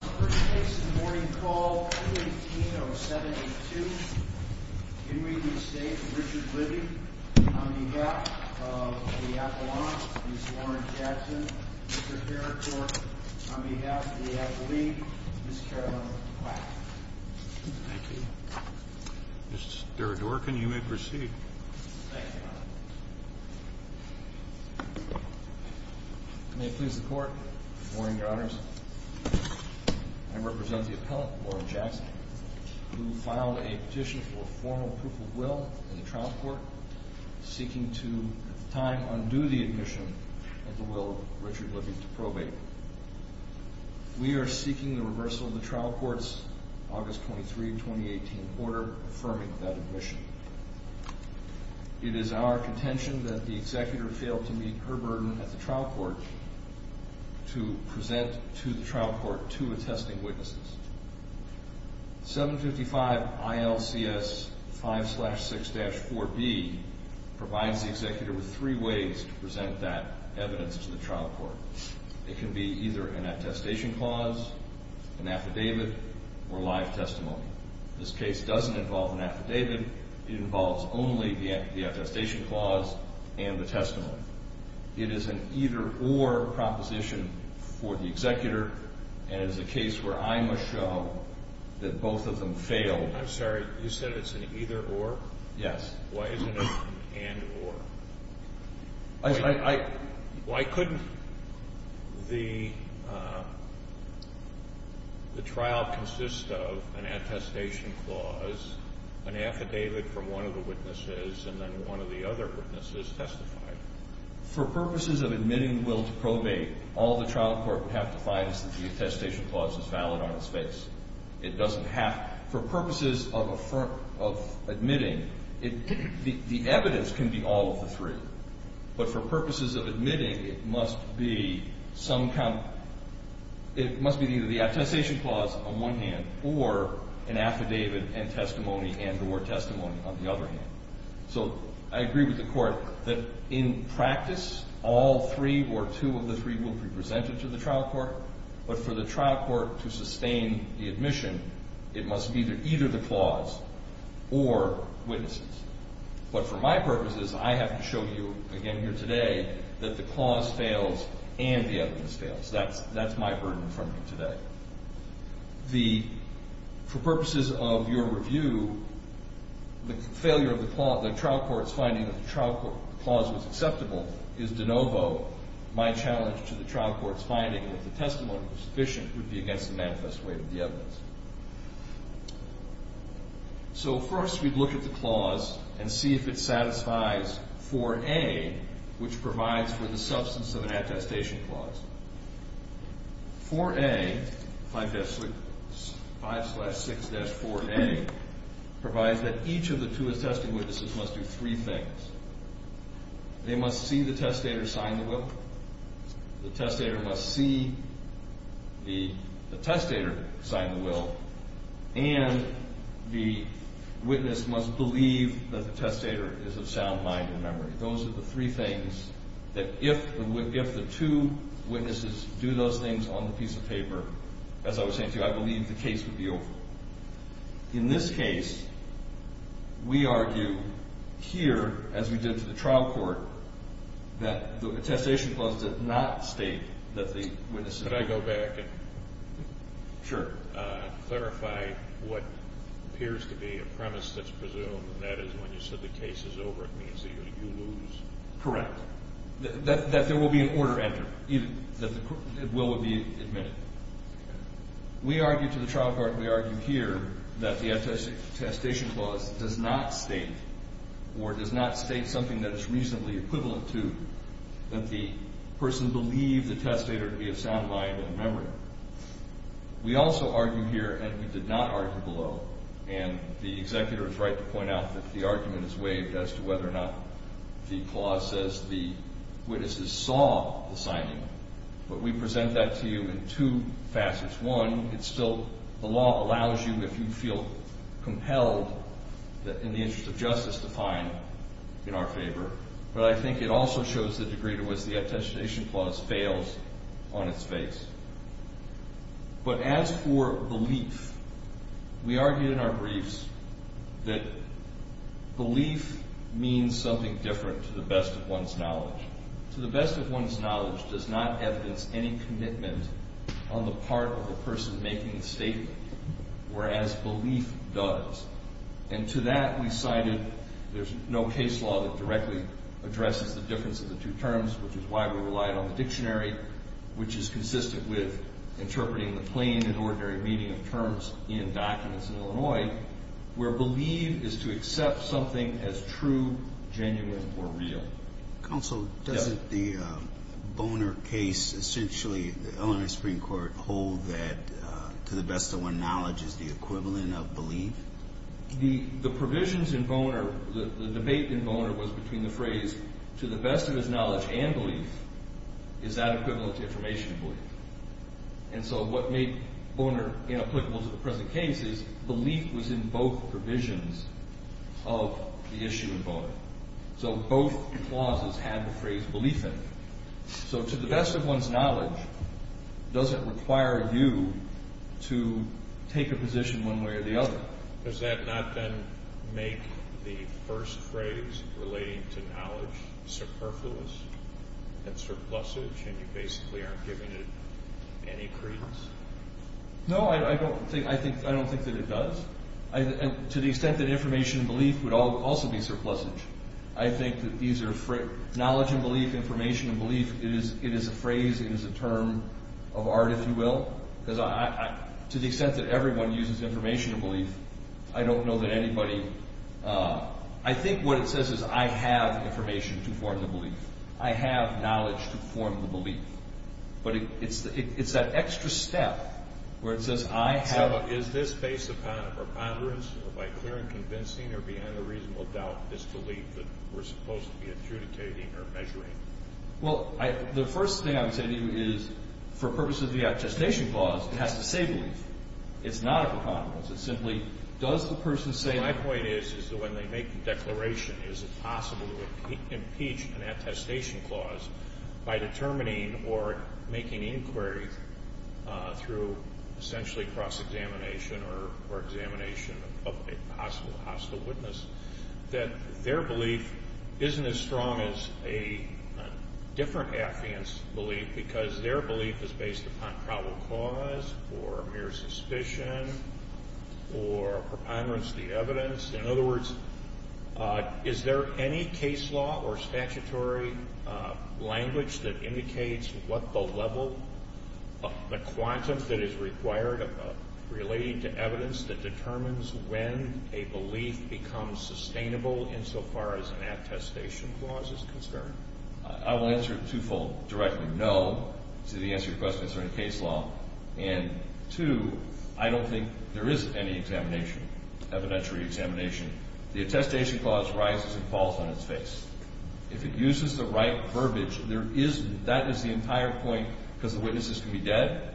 on behalf of the Appalachians, Warren Jackson, Mr. Haricourt, on behalf of the Appalachians, Ms. Carolyn Quack. Thank you. Mr. Durkin, you may proceed. Thank you, Your Honor. May it please the Court. Good morning, Your Honors. I represent the appellant, Warren Jackson, who filed a petition for formal proof of will in the trial court, seeking to, at the time, undo the admission and the will of Richard Libby to probate. We are seeking the reversal of the trial court's August 23, 2018 order affirming that admission. It is our contention that the executor failed to meet her burden at the trial court to present to the trial court two attesting witnesses. 755 ILCS 5-6-4B provides the executor with three ways to present that evidence to the trial court. It can be either an attestation clause, an affidavit, or live testimony. This case doesn't involve an affidavit. It involves only the attestation clause and the testimony. It is an either-or proposition for the executor, and it is a case where I must show that both of them failed. I'm sorry. You said it's an either-or? Yes. Why isn't it an and-or? Why couldn't the trial consist of an attestation clause, an affidavit from one of the witnesses, and then one of the other witnesses testify? For purposes of admitting the will to probate, all the trial court would have to find is that the attestation clause is valid on its face. It doesn't have to. For purposes of admitting, the evidence can be all of the three. But for purposes of admitting, it must be either the attestation clause on one hand or an affidavit and testimony and or testimony on the other hand. So I agree with the Court that in practice, all three or two of the three will be presented to the trial court. But for the trial court to sustain the admission, it must be either the clause or witnesses. But for my purposes, I have to show you again here today that the clause fails and the evidence fails. That's my burden for me today. For purposes of your review, the trial court's finding that the clause was acceptable is de novo. My challenge to the trial court's finding that the testimony was sufficient would be against the manifest weight of the evidence. So first we'd look at the clause and see if it satisfies 4A, which provides for the substance of an attestation clause. 4A, 5-6, 5-6-4A, provides that each of the two attesting witnesses must do three things. They must see the testator sign the will. The testator must see the testator sign the will. And the witness must believe that the testator is of sound mind and memory. Those are the three things that if the two witnesses do those things on the piece of paper, as I was saying to you, I believe the case would be over. In this case, we argue here, as we did to the trial court, that the attestation clause did not state that the witnesses. Could I go back and clarify what appears to be a premise that's presumed, and that is when you said the case is over, it means that you lose? Correct. That there will be an order entered, that the will would be admitted. We argue to the trial court, we argue here, that the attestation clause does not state or does not state something that is reasonably equivalent to that the person believed the testator to be of sound mind and memory. We also argue here, and we did not argue below, and the executor is right to point out that the argument is waived as to whether or not the clause says the witnesses saw the signing. But we present that to you in two facets. One, it's still, the law allows you, if you feel compelled, in the interest of justice, to fine in our favor. But I think it also shows the degree to which the attestation clause fails on its face. But as for belief, we argue in our briefs that belief means something different to the best of one's knowledge. To the best of one's knowledge does not evidence any commitment on the part of a person making the statement, whereas belief does. And to that we cited, there's no case law that directly addresses the difference of the two terms, which is why we relied on the dictionary, which is consistent with interpreting the plain and ordinary meaning of terms in documents in Illinois, where belief is to accept something as true, genuine, or real. Counsel, doesn't the Boner case essentially, the Illinois Supreme Court hold that to the best of one's knowledge is the equivalent of belief? The provisions in Boner, the debate in Boner was between the phrase, to the best of his knowledge and belief, is that equivalent to information belief? And so what made Boner inapplicable to the present case is belief was in both provisions of the issue in Boner. So both clauses had the phrase belief in it. So to the best of one's knowledge doesn't require you to take a position one way or the other. Does that not then make the first phrase relating to knowledge superfluous and surplusage and you basically aren't giving it any credence? No, I don't think that it does. To the extent that information belief would also be surplusage. I think that these are, knowledge and belief, information and belief, it is a phrase, it is a term of art, if you will. To the extent that everyone uses information and belief, I don't know that anybody, I think what it says is I have information to form the belief. I have knowledge to form the belief. But it's that extra step where it says I have. So is this based upon a preponderance, by clear and convincing or beyond a reasonable doubt, this belief that we're supposed to be adjudicating or measuring? Well, the first thing I would say to you is for purposes of the attestation clause, it has to say belief. It's not a preponderance. It's simply does the person say. My point is that when they make the declaration, is it possible to impeach an attestation clause by determining or making inquiries through essentially cross-examination or examination of a possible hostile witness, that their belief isn't as strong as a different affiant's belief because their belief is based upon probable cause or mere suspicion or preponderance of the evidence? In other words, is there any case law or statutory language that indicates what the level of the quantum that is required of relating to evidence that determines when a belief becomes sustainable insofar as an attestation clause is concerned? I will answer it two-fold directly. No, to the answer to your question, is there any case law. And two, I don't think there is any examination, evidentiary examination. The attestation clause rises and falls on its face. If it uses the right verbiage, there isn't. That is the entire point because the witnesses can be dead.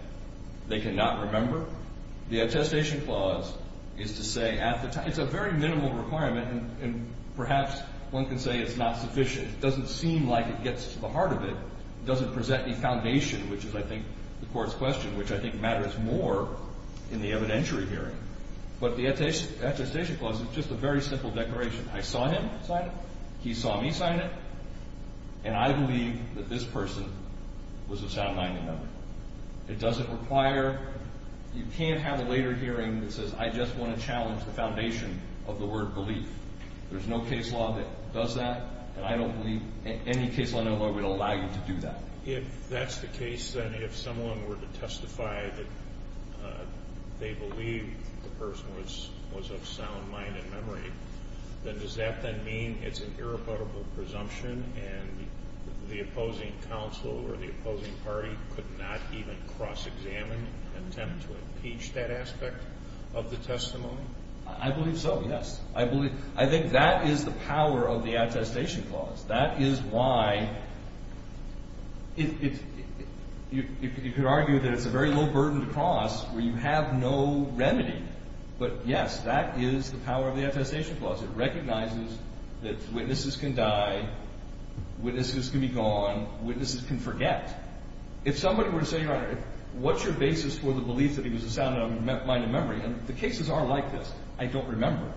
They cannot remember. The attestation clause is to say at the time. It's a very minimal requirement, and perhaps one can say it's not sufficient. It doesn't seem like it gets to the heart of it. It doesn't present any foundation, which is, I think, the court's question, which I think matters more in the evidentiary hearing. But the attestation clause is just a very simple declaration. I saw him sign it. He saw me sign it. And I believe that this person was assigned 9-1-1. It doesn't require. You can't have a later hearing that says I just want to challenge the foundation of the word belief. There's no case law that does that, and I don't believe any case law would allow you to do that. If that's the case, then if someone were to testify that they believe the person was of sound mind and memory, then does that then mean it's an irrebuttable presumption, and the opposing counsel or the opposing party could not even cross-examine, attempt to impeach that aspect of the testimony? I believe so, yes. I think that is the power of the attestation clause. That is why you could argue that it's a very low burden to cross where you have no remedy. But, yes, that is the power of the attestation clause. It recognizes that witnesses can die, witnesses can be gone, witnesses can forget. If somebody were to say, what's your basis for the belief that he was of sound mind and memory? The cases are like this. I don't remember.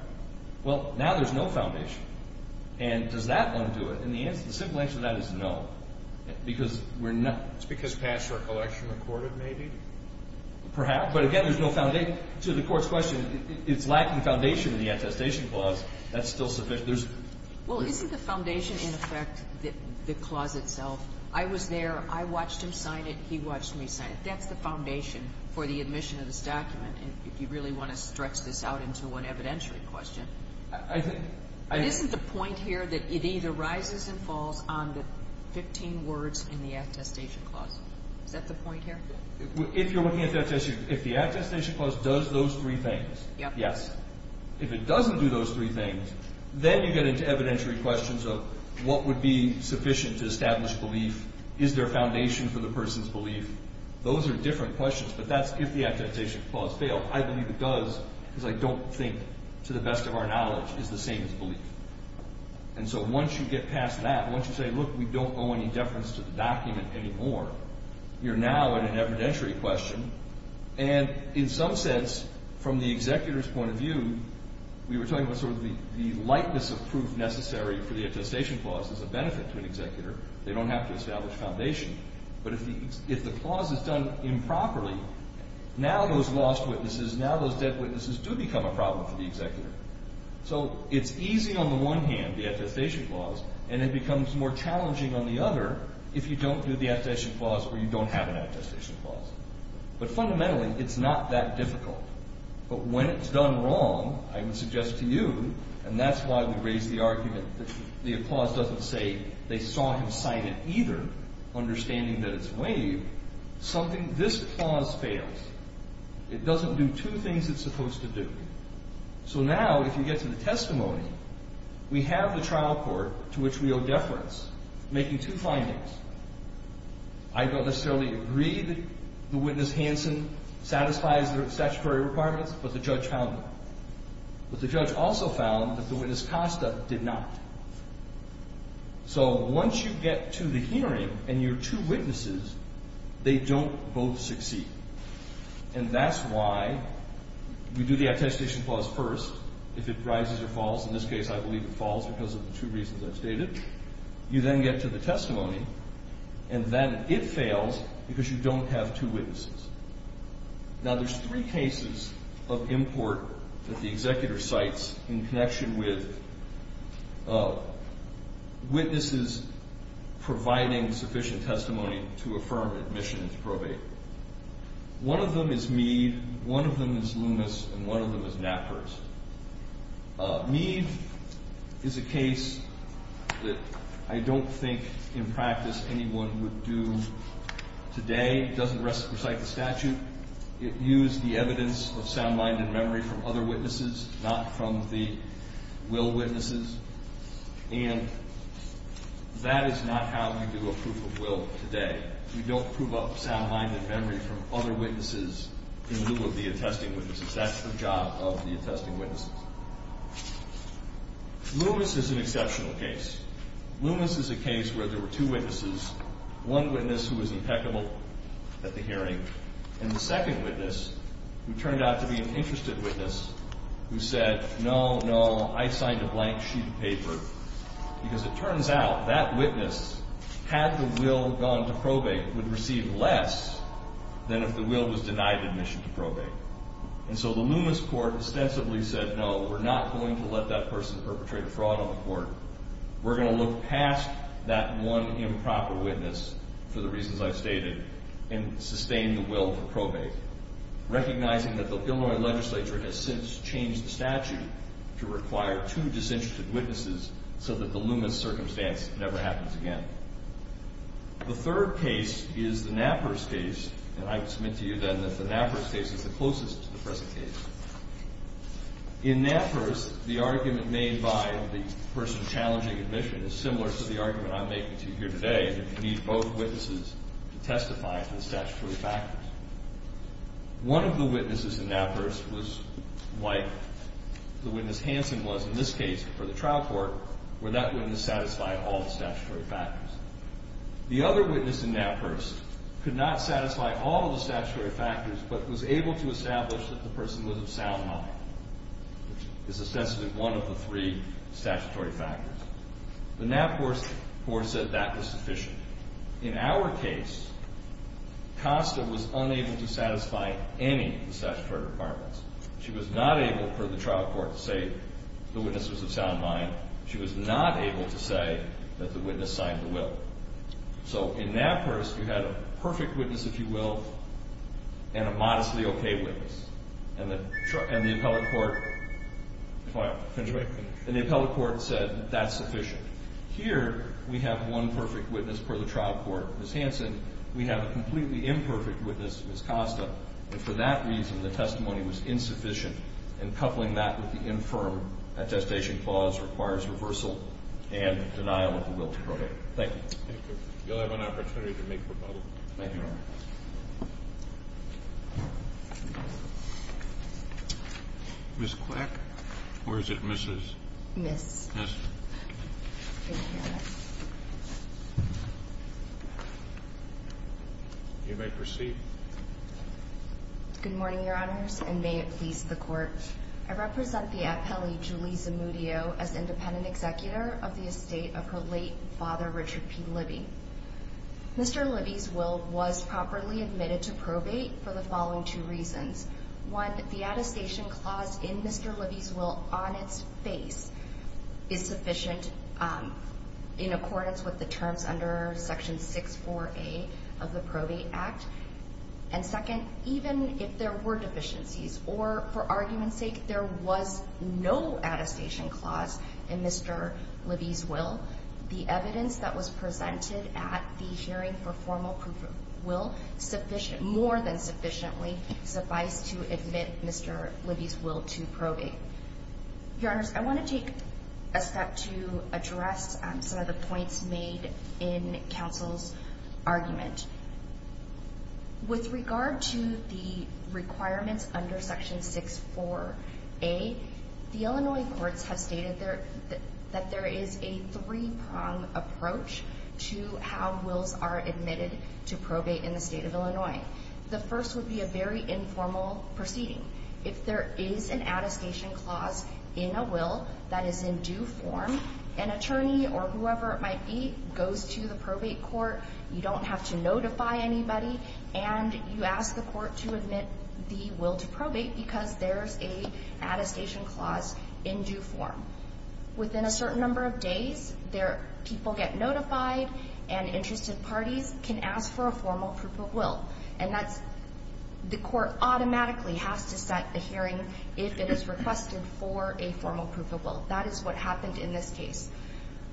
Well, now there's no foundation. And does that undo it? And the simple answer to that is no, because we're not. It's because past recollection recorded, maybe? Perhaps. But, again, there's no foundation. To the Court's question, it's lacking foundation in the attestation clause. That's still sufficient. Well, isn't the foundation, in effect, the clause itself? I was there. I watched him sign it. He watched me sign it. That's the foundation for the admission of this document. If you really want to stretch this out into one evidentiary question. Isn't the point here that it either rises and falls on the 15 words in the attestation clause? Is that the point here? If you're looking at the attestation clause, if the attestation clause does those three things, yes. If it doesn't do those three things, then you get into evidentiary questions of what would be sufficient to establish belief. Is there a foundation for the person's belief? Those are different questions. But that's if the attestation clause failed. I believe it does because I don't think, to the best of our knowledge, is the same as belief. And so once you get past that, once you say, look, we don't owe any deference to the document anymore, you're now in an evidentiary question. And in some sense, from the executor's point of view, we were talking about sort of the lightness of proof necessary for the attestation clause as a benefit to an executor. They don't have to establish foundation. But if the clause is done improperly, now those lost witnesses, now those dead witnesses do become a problem for the executor. So it's easy on the one hand, the attestation clause, and it becomes more challenging on the other if you don't do the attestation clause or you don't have an attestation clause. But fundamentally, it's not that difficult. But when it's done wrong, I would suggest to you, and that's why we raised the argument that the clause doesn't say they saw him cited either, understanding that it's waived, something, this clause fails. It doesn't do two things it's supposed to do. So now, if you get to the testimony, we have the trial court to which we owe deference, making two findings. I don't necessarily agree that the witness, Hanson, satisfies the statutory requirements, but the judge found them. But the judge also found that the witness, Costa, did not. So once you get to the hearing and you're two witnesses, they don't both succeed. And that's why we do the attestation clause first if it rises or falls. In this case, I believe it falls because of the two reasons I've stated. You then get to the testimony, and then it fails because you don't have two witnesses. Now, there's three cases of import that the executor cites in connection with witnesses providing sufficient testimony to affirm admission into probate. One of them is Meade, one of them is Loomis, and one of them is Knappers. Meade is a case that I don't think in practice anyone would do today. It doesn't recite the statute. It used the evidence of sound mind and memory from other witnesses, not from the will witnesses. And that is not how we do a proof of will today. We don't prove up sound mind and memory from other witnesses in lieu of the attesting witnesses. That's the job of the attesting witnesses. Loomis is an exceptional case. Loomis is a case where there were two witnesses, one witness who was impeccable at the hearing, and the second witness who turned out to be an interested witness who said, no, no, I signed a blank sheet of paper, because it turns out that witness, had the will gone to probate, would receive less than if the will was denied admission to probate. And so the Loomis court ostensibly said, no, we're not going to let that person perpetrate a fraud on the court. We're going to look past that one improper witness, for the reasons I've stated, and sustain the will to probate, recognizing that the Illinois legislature has since changed the statute to require two disinterested witnesses so that the Loomis circumstance never happens again. The third case is the Knappers case, and I submit to you then that the Knappers case is the closest to the present case. In Knappers, the argument made by the person challenging admission is similar to the argument I'm making to you here today, that you need both witnesses to testify for the statutory factors. One of the witnesses in Knappers was white. The witness Hanson was, in this case, for the trial court, where that witness satisfied all the statutory factors. The other witness in Knappers could not satisfy all of the statutory factors, but was able to establish that the person was of sound mind, which is ostensibly one of the three statutory factors. The Knappers court said that was sufficient. In our case, Costa was unable to satisfy any of the statutory requirements. She was not able, per the trial court, to say the witness was of sound mind. She was not able to say that the witness signed the will. So in Knappers, you had a perfect witness, if you will, and a modestly okay witness. And the appellate court said that's sufficient. Here, we have one perfect witness per the trial court, Ms. Hanson. We have a completely imperfect witness, Ms. Costa. And for that reason, the testimony was insufficient. And coupling that with the infirm attestation clause requires reversal and denial of the will to probate. Thank you. Thank you. You'll have an opportunity to make a rebuttal. Thank you, Your Honor. Ms. Quack, or is it Mrs.? Ms. Ms. Thank you, Your Honor. You may proceed. Good morning, Your Honors, and may it please the Court. I represent the appellee, Julie Zamudio, as independent executor of the estate of her late father, Richard P. Libby. Mr. Libby's will was properly admitted to probate for the following two reasons. One, the attestation clause in Mr. Libby's will on its face is sufficient in accordance with the terms under Section 64A of the Probate Act. And second, even if there were deficiencies or, for argument's sake, there was no attestation clause in Mr. Libby's will, the evidence that was presented at the hearing for formal proof of will more than sufficiently suffice to admit Mr. Libby's will to probate. Your Honors, I want to take a step to address some of the points made in counsel's argument. With regard to the requirements under Section 64A, the Illinois courts have stated that there is a three-pronged approach to how wills are admitted to probate in the state of Illinois. The first would be a very informal proceeding. If there is an attestation clause in a will that is in due form, an attorney or whoever it might be goes to the probate court. You don't have to notify anybody, and you ask the court to admit the will to probate because there's an attestation clause in due form. Within a certain number of days, people get notified, and interested parties can ask for a formal proof of will. The court automatically has to set a hearing if it is requested for a formal proof of will. That is what happened in this case.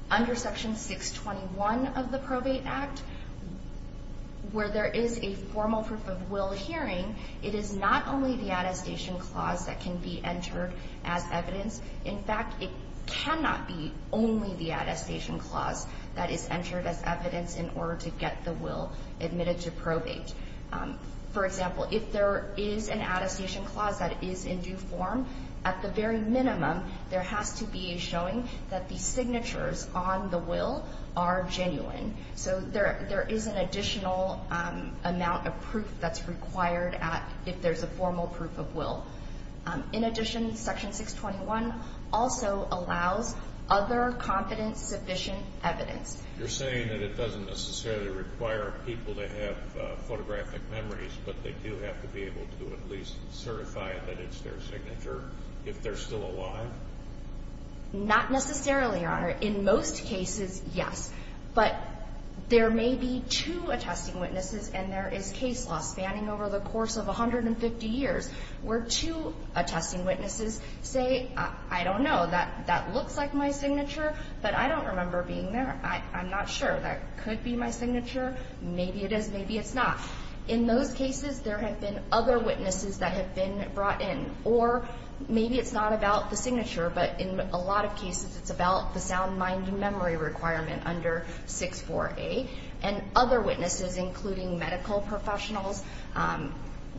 Under Section 621 of the Probate Act, where there is a formal proof of will hearing, it is not only the attestation clause that can be entered as evidence. In fact, it cannot be only the attestation clause that is entered as evidence in order to get the will admitted to probate. For example, if there is an attestation clause that is in due form, at the very minimum, there has to be a showing that the signatures on the will are genuine. So there is an additional amount of proof that's required if there's a formal proof of will. In addition, Section 621 also allows other confident, sufficient evidence. You're saying that it doesn't necessarily require people to have photographic memories, but they do have to be able to at least certify that it's their signature if they're still alive? Not necessarily, Your Honor. In most cases, yes. But there may be two attesting witnesses, and there is case law spanning over the course of 150 years where two attesting witnesses say, I don't know, that looks like my signature, but I don't remember being there. I'm not sure. That could be my signature. Maybe it is. Maybe it's not. In those cases, there have been other witnesses that have been brought in. Or maybe it's not about the signature, but in a lot of cases, it's about the sound mind and memory requirement under 64A. And other witnesses, including medical professionals,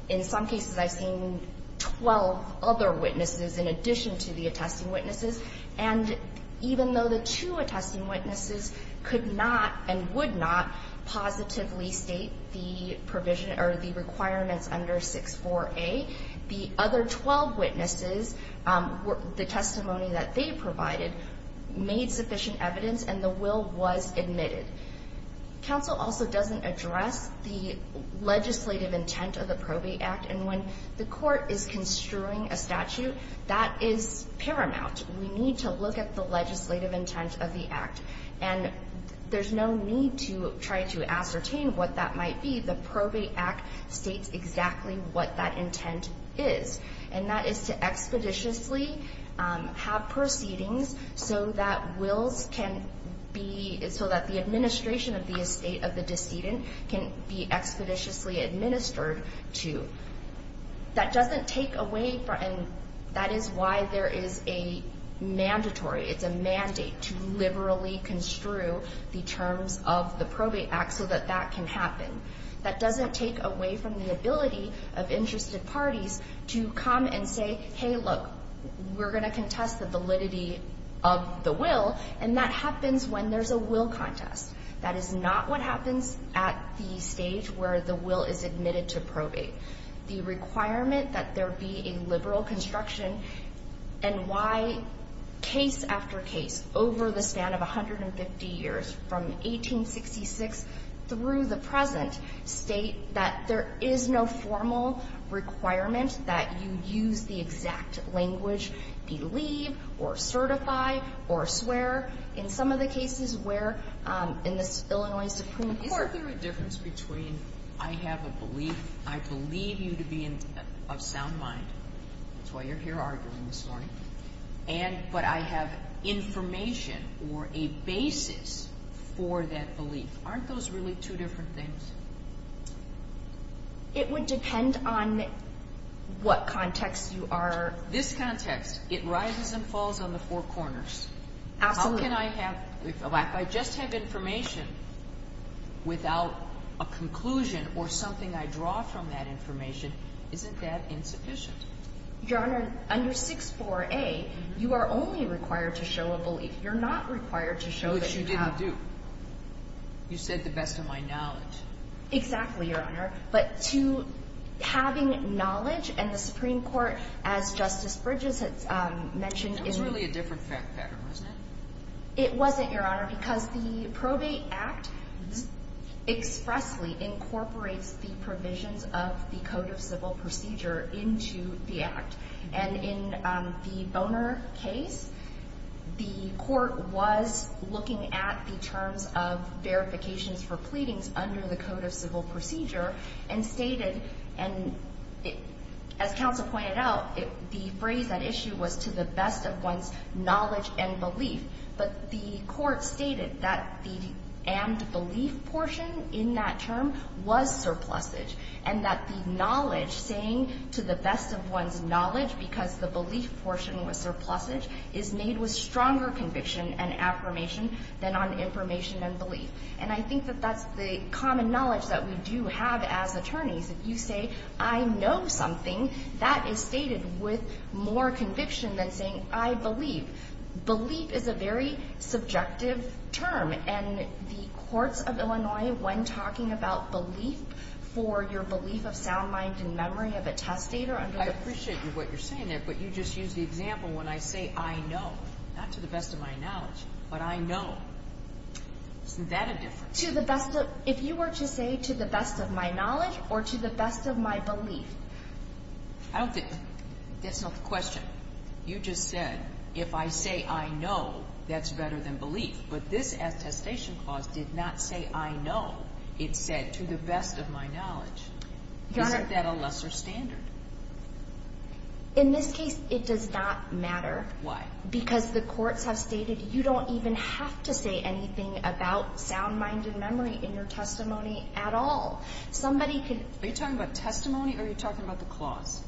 in some cases I've seen 12 other witnesses in addition to the attesting witnesses. And even though the two attesting witnesses could not and would not positively state the provision or the requirements under 64A, the other 12 witnesses, the testimony that they provided, made sufficient evidence, and the will was admitted. Counsel also doesn't address the legislative intent of the Probate Act. And when the court is construing a statute, that is paramount. We need to look at the legislative intent of the act. And there's no need to try to ascertain what that might be. The Probate Act states exactly what that intent is. And that is to expeditiously have proceedings so that wills can be, so that the administration of the estate of the decedent can be expeditiously administered to. That doesn't take away from, and that is why there is a mandatory, it's a mandate to liberally construe the terms of the Probate Act so that that can happen. That doesn't take away from the ability of interested parties to come and say, hey, look, we're going to contest the validity of the will, and that happens when there's a will contest. That is not what happens at the stage where the will is admitted to probate. The requirement that there be a liberal construction and why case after case, over the span of 150 years, from 1866 through the present, state that there is no formal requirement that you use the exact language, believe or certify or swear in some of the cases where in this Illinois Supreme Court. Is there a difference between I have a belief, I believe you to be of sound mind, that's why you're here arguing this morning, and but I have information or a basis for that belief. Aren't those really two different things? It would depend on what context you are in. This context, it rises and falls on the four corners. Absolutely. How can I have, if I just have information without a conclusion or something I draw from that information, isn't that insufficient? Your Honor, under 64A, you are only required to show a belief. You're not required to show that you have. Which you didn't do. You said the best of my knowledge. Exactly, Your Honor. But to having knowledge and the Supreme Court, as Justice Bridges had mentioned. That was really a different fact pattern, wasn't it? It wasn't, Your Honor, because the Probate Act expressly incorporates the provisions of the Code of Civil Procedure into the Act. And in the Boner case, the court was looking at the terms of verifications for pleadings under the Code of Civil Procedure and stated, as counsel pointed out, the phrase at issue was to the best of one's knowledge and belief. But the court stated that the and belief portion in that term was surplusage. And that the knowledge, saying to the best of one's knowledge because the belief portion was surplusage, is made with stronger conviction and affirmation than on information and belief. And I think that that's the common knowledge that we do have as attorneys. If you say, I know something, that is stated with more conviction than saying, I believe. Belief is a very subjective term. And the courts of Illinois, when talking about belief for your belief of sound mind and memory of a testator under the... I appreciate what you're saying there. But you just used the example when I say, I know. Not to the best of my knowledge, but I know. Isn't that a difference? To the best of... if you were to say, to the best of my knowledge or to the best of my belief... I don't think... that's not the question. You just said, if I say, I know, that's better than belief. But this attestation clause did not say, I know. It said, to the best of my knowledge. Your Honor. Isn't that a lesser standard? In this case, it does not matter. Why? Because the courts have stated, you don't even have to say anything about sound mind and memory in your testimony at all. Somebody could... Are you talking about testimony or are you talking about the clause?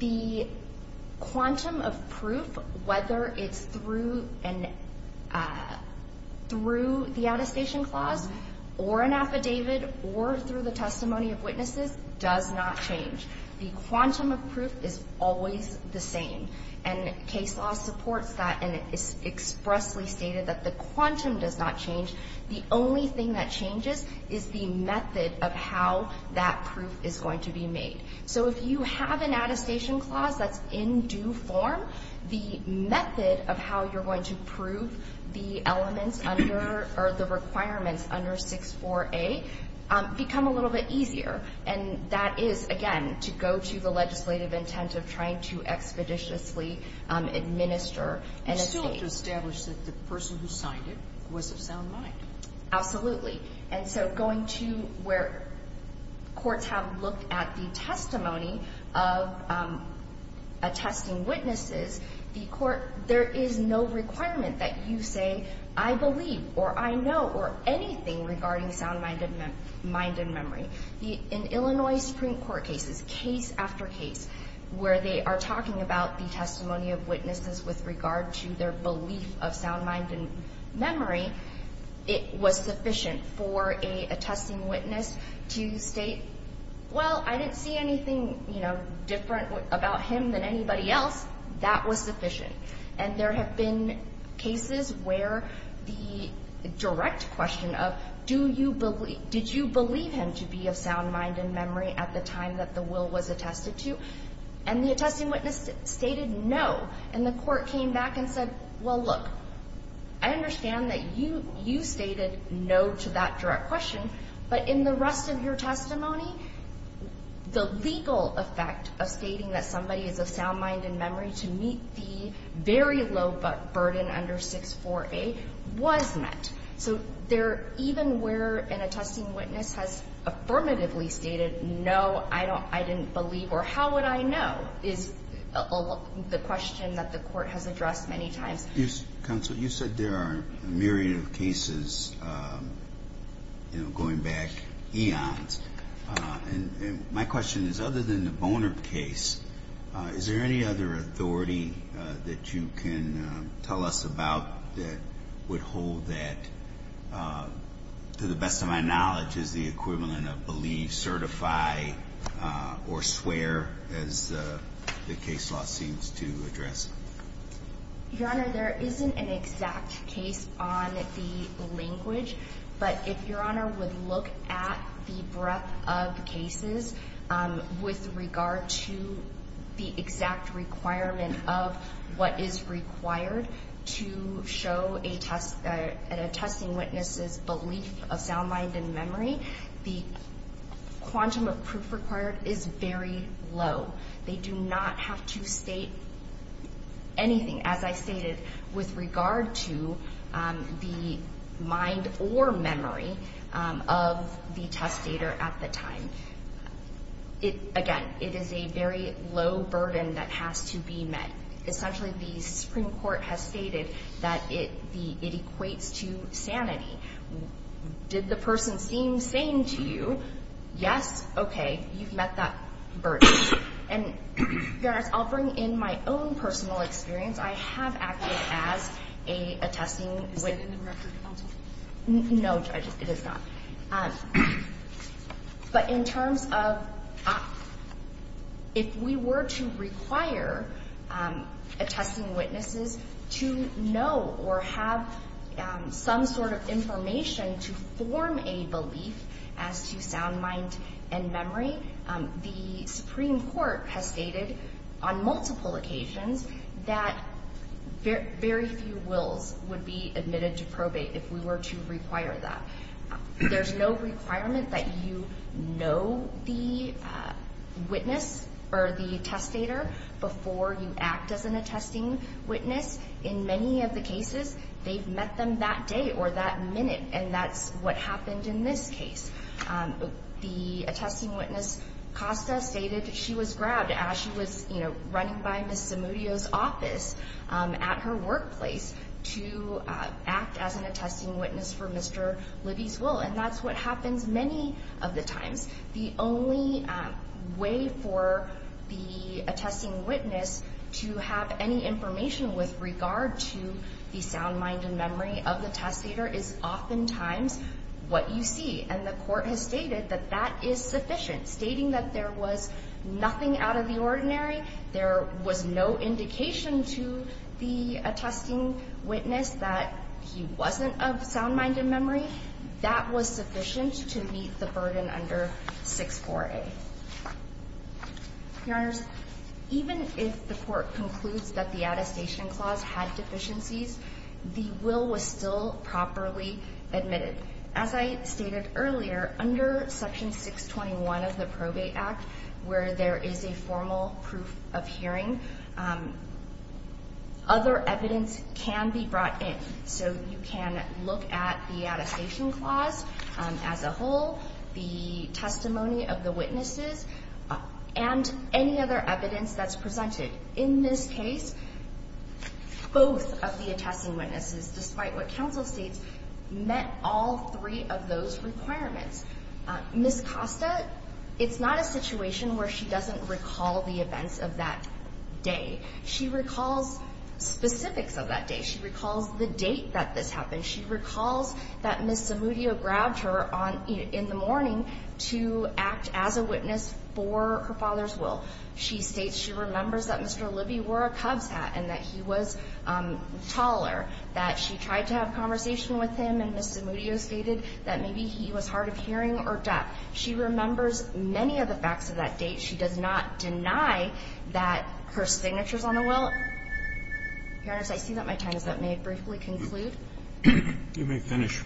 The quantum of proof, whether it's through the attestation clause or an affidavit or through the testimony of witnesses, does not change. The quantum of proof is always the same. And case law supports that and it's expressly stated that the quantum does not change. The only thing that changes is the method of how that proof is going to be made. So if you have an attestation clause that's in due form, the method of how you're going to prove the elements under or the requirements under 64A become a little bit easier. And that is, again, to go to the legislative intent of trying to expeditiously administer an estate. You still have to establish that the person who signed it was of sound mind. Absolutely. And so going to where courts have looked at the testimony of attesting witnesses, the court, there is no requirement that you say, I believe or I know or anything regarding sound mind and memory. In Illinois Supreme Court cases, case after case where they are talking about the testimony of witnesses with regard to their belief of sound mind and memory, it was sufficient for an attesting witness to state, well, I didn't see anything, you know, different about him than anybody else. That was sufficient. And there have been cases where the direct question of do you believe, did you believe him to be of sound mind and memory at the time that the will was attested to? And the attesting witness stated no. And the court came back and said, well, look, I understand that you stated no to that direct question, but in the rest of your testimony, the legal effect of stating that somebody is of sound mind and memory to meet the very low burden under 64A was met. So even where an attesting witness has affirmatively stated no, I didn't believe or how would I know is the question that the court has addressed many times. Counsel, you said there are a myriad of cases going back eons. And my question is, other than the Boner case, is there any other authority that you can tell us about that would hold that, to the best of my knowledge, is the equivalent of believe, certify, or swear, as the case law seems to address? Your Honor, there isn't an exact case on the language. But if Your Honor would look at the breadth of cases with regard to the exact requirement of what is required to show an attesting witness's belief of sound mind and memory, the quantum of proof required is very low. They do not have to state anything, as I stated, with regard to the mind or memory of the testator at the time. Again, it is a very low burden that has to be met. Essentially, the Supreme Court has stated that it equates to sanity. Did the person seem sane to you? Yes? Okay. You've met that burden. And Your Honor, I'll bring in my own personal experience. I have acted as an attesting witness. Is that in the record also? No, Judge, it is not. But in terms of if we were to require attesting witnesses to know or have some sort of information to form a belief as to sound mind and memory, the Supreme Court has stated on multiple occasions that very few wills would be admitted to probate if we were to require that. There's no requirement that you know the witness or the testator before you act as an attesting witness. In many of the cases, they've met them that day or that minute, and that's what happened in this case. The attesting witness, Costa, stated she was grabbed as she was, you know, running by Ms. Zamudio's office at her workplace to act as an attesting witness for Mr. Libby's will, and that's what happens many of the times. The only way for the attesting witness to have any information with regard to the sound mind and memory of the testator is oftentimes what you see. And the court has stated that that is sufficient, stating that there was nothing out of the ordinary, there was no indication to the attesting witness that he wasn't of sound mind and memory. That was sufficient to meet the burden under 64A. Your Honors, even if the court concludes that the attestation clause had deficiencies, the will was still properly admitted. As I stated earlier, under Section 621 of the Probate Act, where there is a formal proof of hearing, other evidence can be brought in. So you can look at the attestation clause as a whole, the testimony of the witnesses, and any other evidence that's presented. In this case, both of the attesting witnesses, despite what counsel states, met all three of those requirements. Ms. Costa, it's not a situation where she doesn't recall the events of that day. She recalls specifics of that day. She recalls the date that this happened. She recalls that Ms. Zamudio grabbed her in the morning to act as a witness for her father's will. She states she remembers that Mr. Libby wore a Cubs hat and that he was taller, that she tried to have a conversation with him, and Ms. Zamudio stated that maybe he was hard of hearing or deaf. She remembers many of the facts of that date. She does not deny that her signature is on the will. Your Honors, I see that my time is up. May I briefly conclude? You may finish.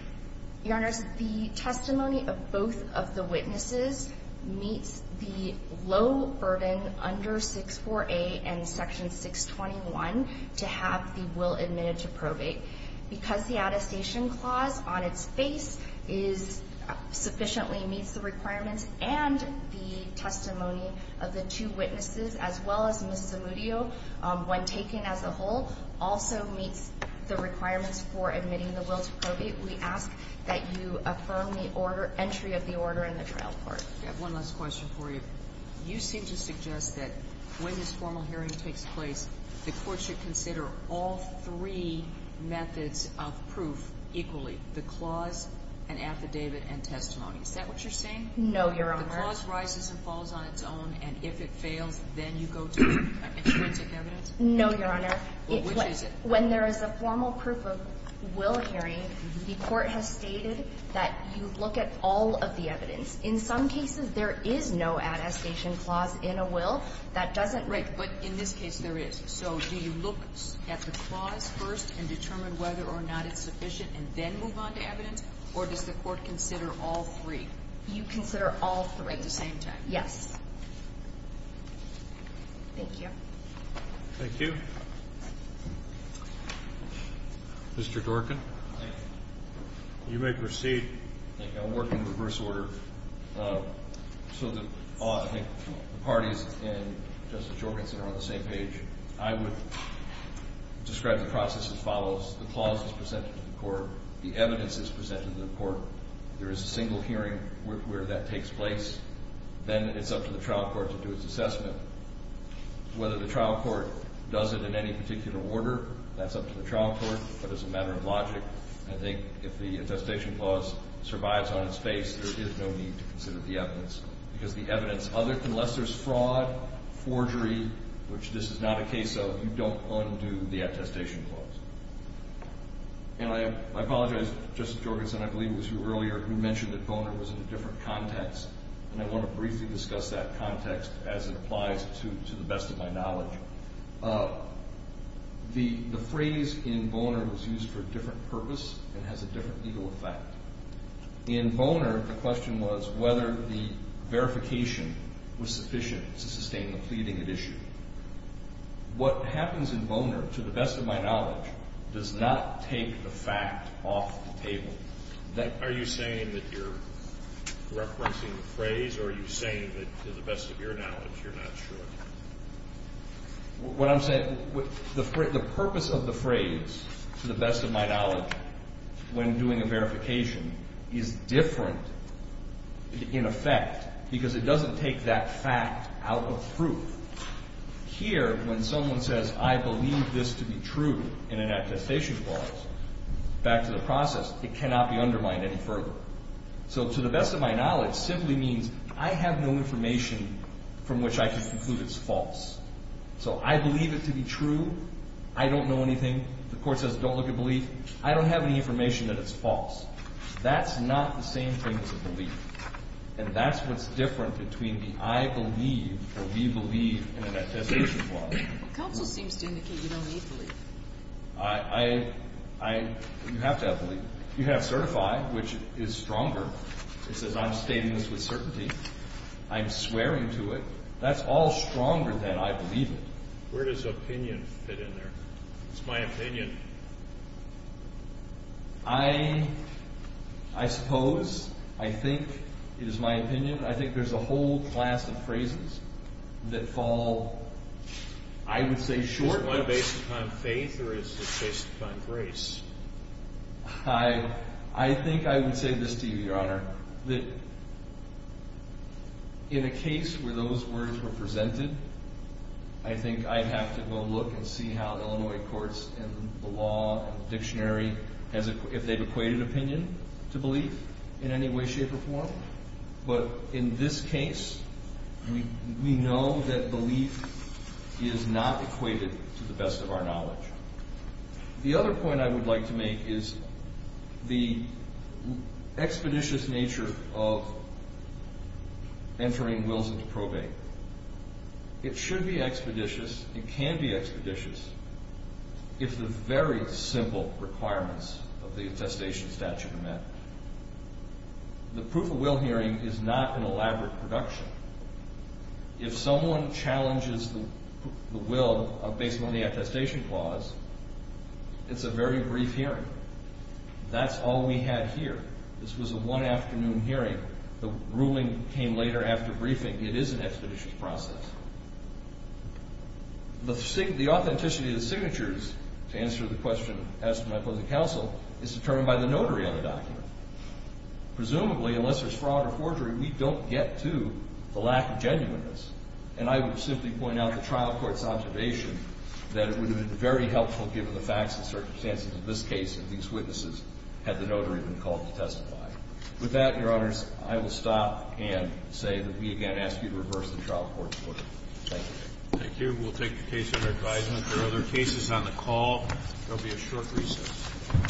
Your Honors, the testimony of both of the witnesses meets the low burden under 64A and Section 621 to have the will admitted to probate. Because the attestation clause on its face is sufficiently meets the requirements and the testimony of the two witnesses as well as Ms. Zamudio when taken as a whole also meets the requirements for admitting the will to probate. We ask that you affirm the entry of the order in the trial court. I have one last question for you. You seem to suggest that when this formal hearing takes place, the court should consider all three methods of proof equally, the clause, an affidavit, and testimony. Is that what you're saying? No, Your Honor. The clause rises and falls on its own, and if it fails, then you go to extrinsic evidence? No, Your Honor. Well, which is it? When there is a formal proof-of-will hearing, the court has stated that you look at all of the evidence. In some cases, there is no attestation clause in a will that doesn't make it. Right. But in this case, there is. So do you look at the clause first and determine whether or not it's sufficient and then move on to evidence, or does the court consider all three? You consider all three. At the same time. Yes. Thank you. Thank you. Mr. Dworkin, you may proceed. Thank you. I'll work in reverse order. So the parties in Justice Jorgensen are on the same page. I would describe the process as follows. The clause is presented to the court. The evidence is presented to the court. There is a single hearing where that takes place. Then it's up to the trial court to do its assessment. Whether the trial court does it in any particular order, that's up to the trial court. But as a matter of logic, I think if the attestation clause survives on its face, there is no need to consider the evidence. Because the evidence, unless there's fraud, forgery, which this is not a case of, you don't undo the attestation clause. And I apologize to Justice Jorgensen, I believe it was you earlier, who mentioned that Boner was in a different context. And I want to briefly discuss that context as it applies to the best of my knowledge. The phrase in Boner was used for a different purpose and has a different legal effect. In Boner, the question was whether the verification was sufficient to sustain the pleading at issue. What happens in Boner, to the best of my knowledge, does not take the fact off the table. Are you saying that you're referencing the phrase, or are you saying that to the best of your knowledge, you're not sure? What I'm saying, the purpose of the phrase, to the best of my knowledge, when doing a verification, is different in effect because it doesn't take that fact out of proof. Here, when someone says, I believe this to be true in an attestation clause, back to the process, it cannot be undermined any further. So to the best of my knowledge simply means I have no information from which I can conclude it's false. So I believe it to be true, I don't know anything, the court says don't look at belief, I don't have any information that it's false. That's not the same thing as a belief. And that's what's different between the I believe or we believe in an attestation clause. Counsel seems to indicate you don't need belief. You have to have belief. You have certify, which is stronger. It says I'm stating this with certainty. I'm swearing to it. That's all stronger than I believe it. Where does opinion fit in there? It's my opinion. I suppose. I think it is my opinion. I think there's a whole class of phrases that fall, I would say, short. Is it one based upon faith or is it based upon grace? I think I would say this to you, Your Honor, that in a case where those words were presented, I think I'd have to go look and see how Illinois courts and the law and the dictionary, if they've equated opinion to belief in any way, shape, or form. But in this case, we know that belief is not equated to the best of our knowledge. The other point I would like to make is the expeditious nature of entering wills into probate. It should be expeditious. It can be expeditious if the very simple requirements of the attestation statute are met. The proof of will hearing is not an elaborate production. If someone challenges the will based on the attestation clause, it's a very brief hearing. That's all we had here. This was a one-afternoon hearing. The ruling came later after briefing. It is an expeditious process. The authenticity of the signatures to answer the question asked by opposing counsel is determined by the notary on the document. Presumably, unless there's fraud or forgery, we don't get to the lack of genuineness. And I would simply point out the trial court's observation that it would have been very helpful given the facts and circumstances of this case if these witnesses had the notary been called to testify. With that, Your Honors, I will stop and say that we again ask you to reverse the trial court's order. Thank you. Thank you. We'll take the case under advisement. There are other cases on the call. There will be a short recess.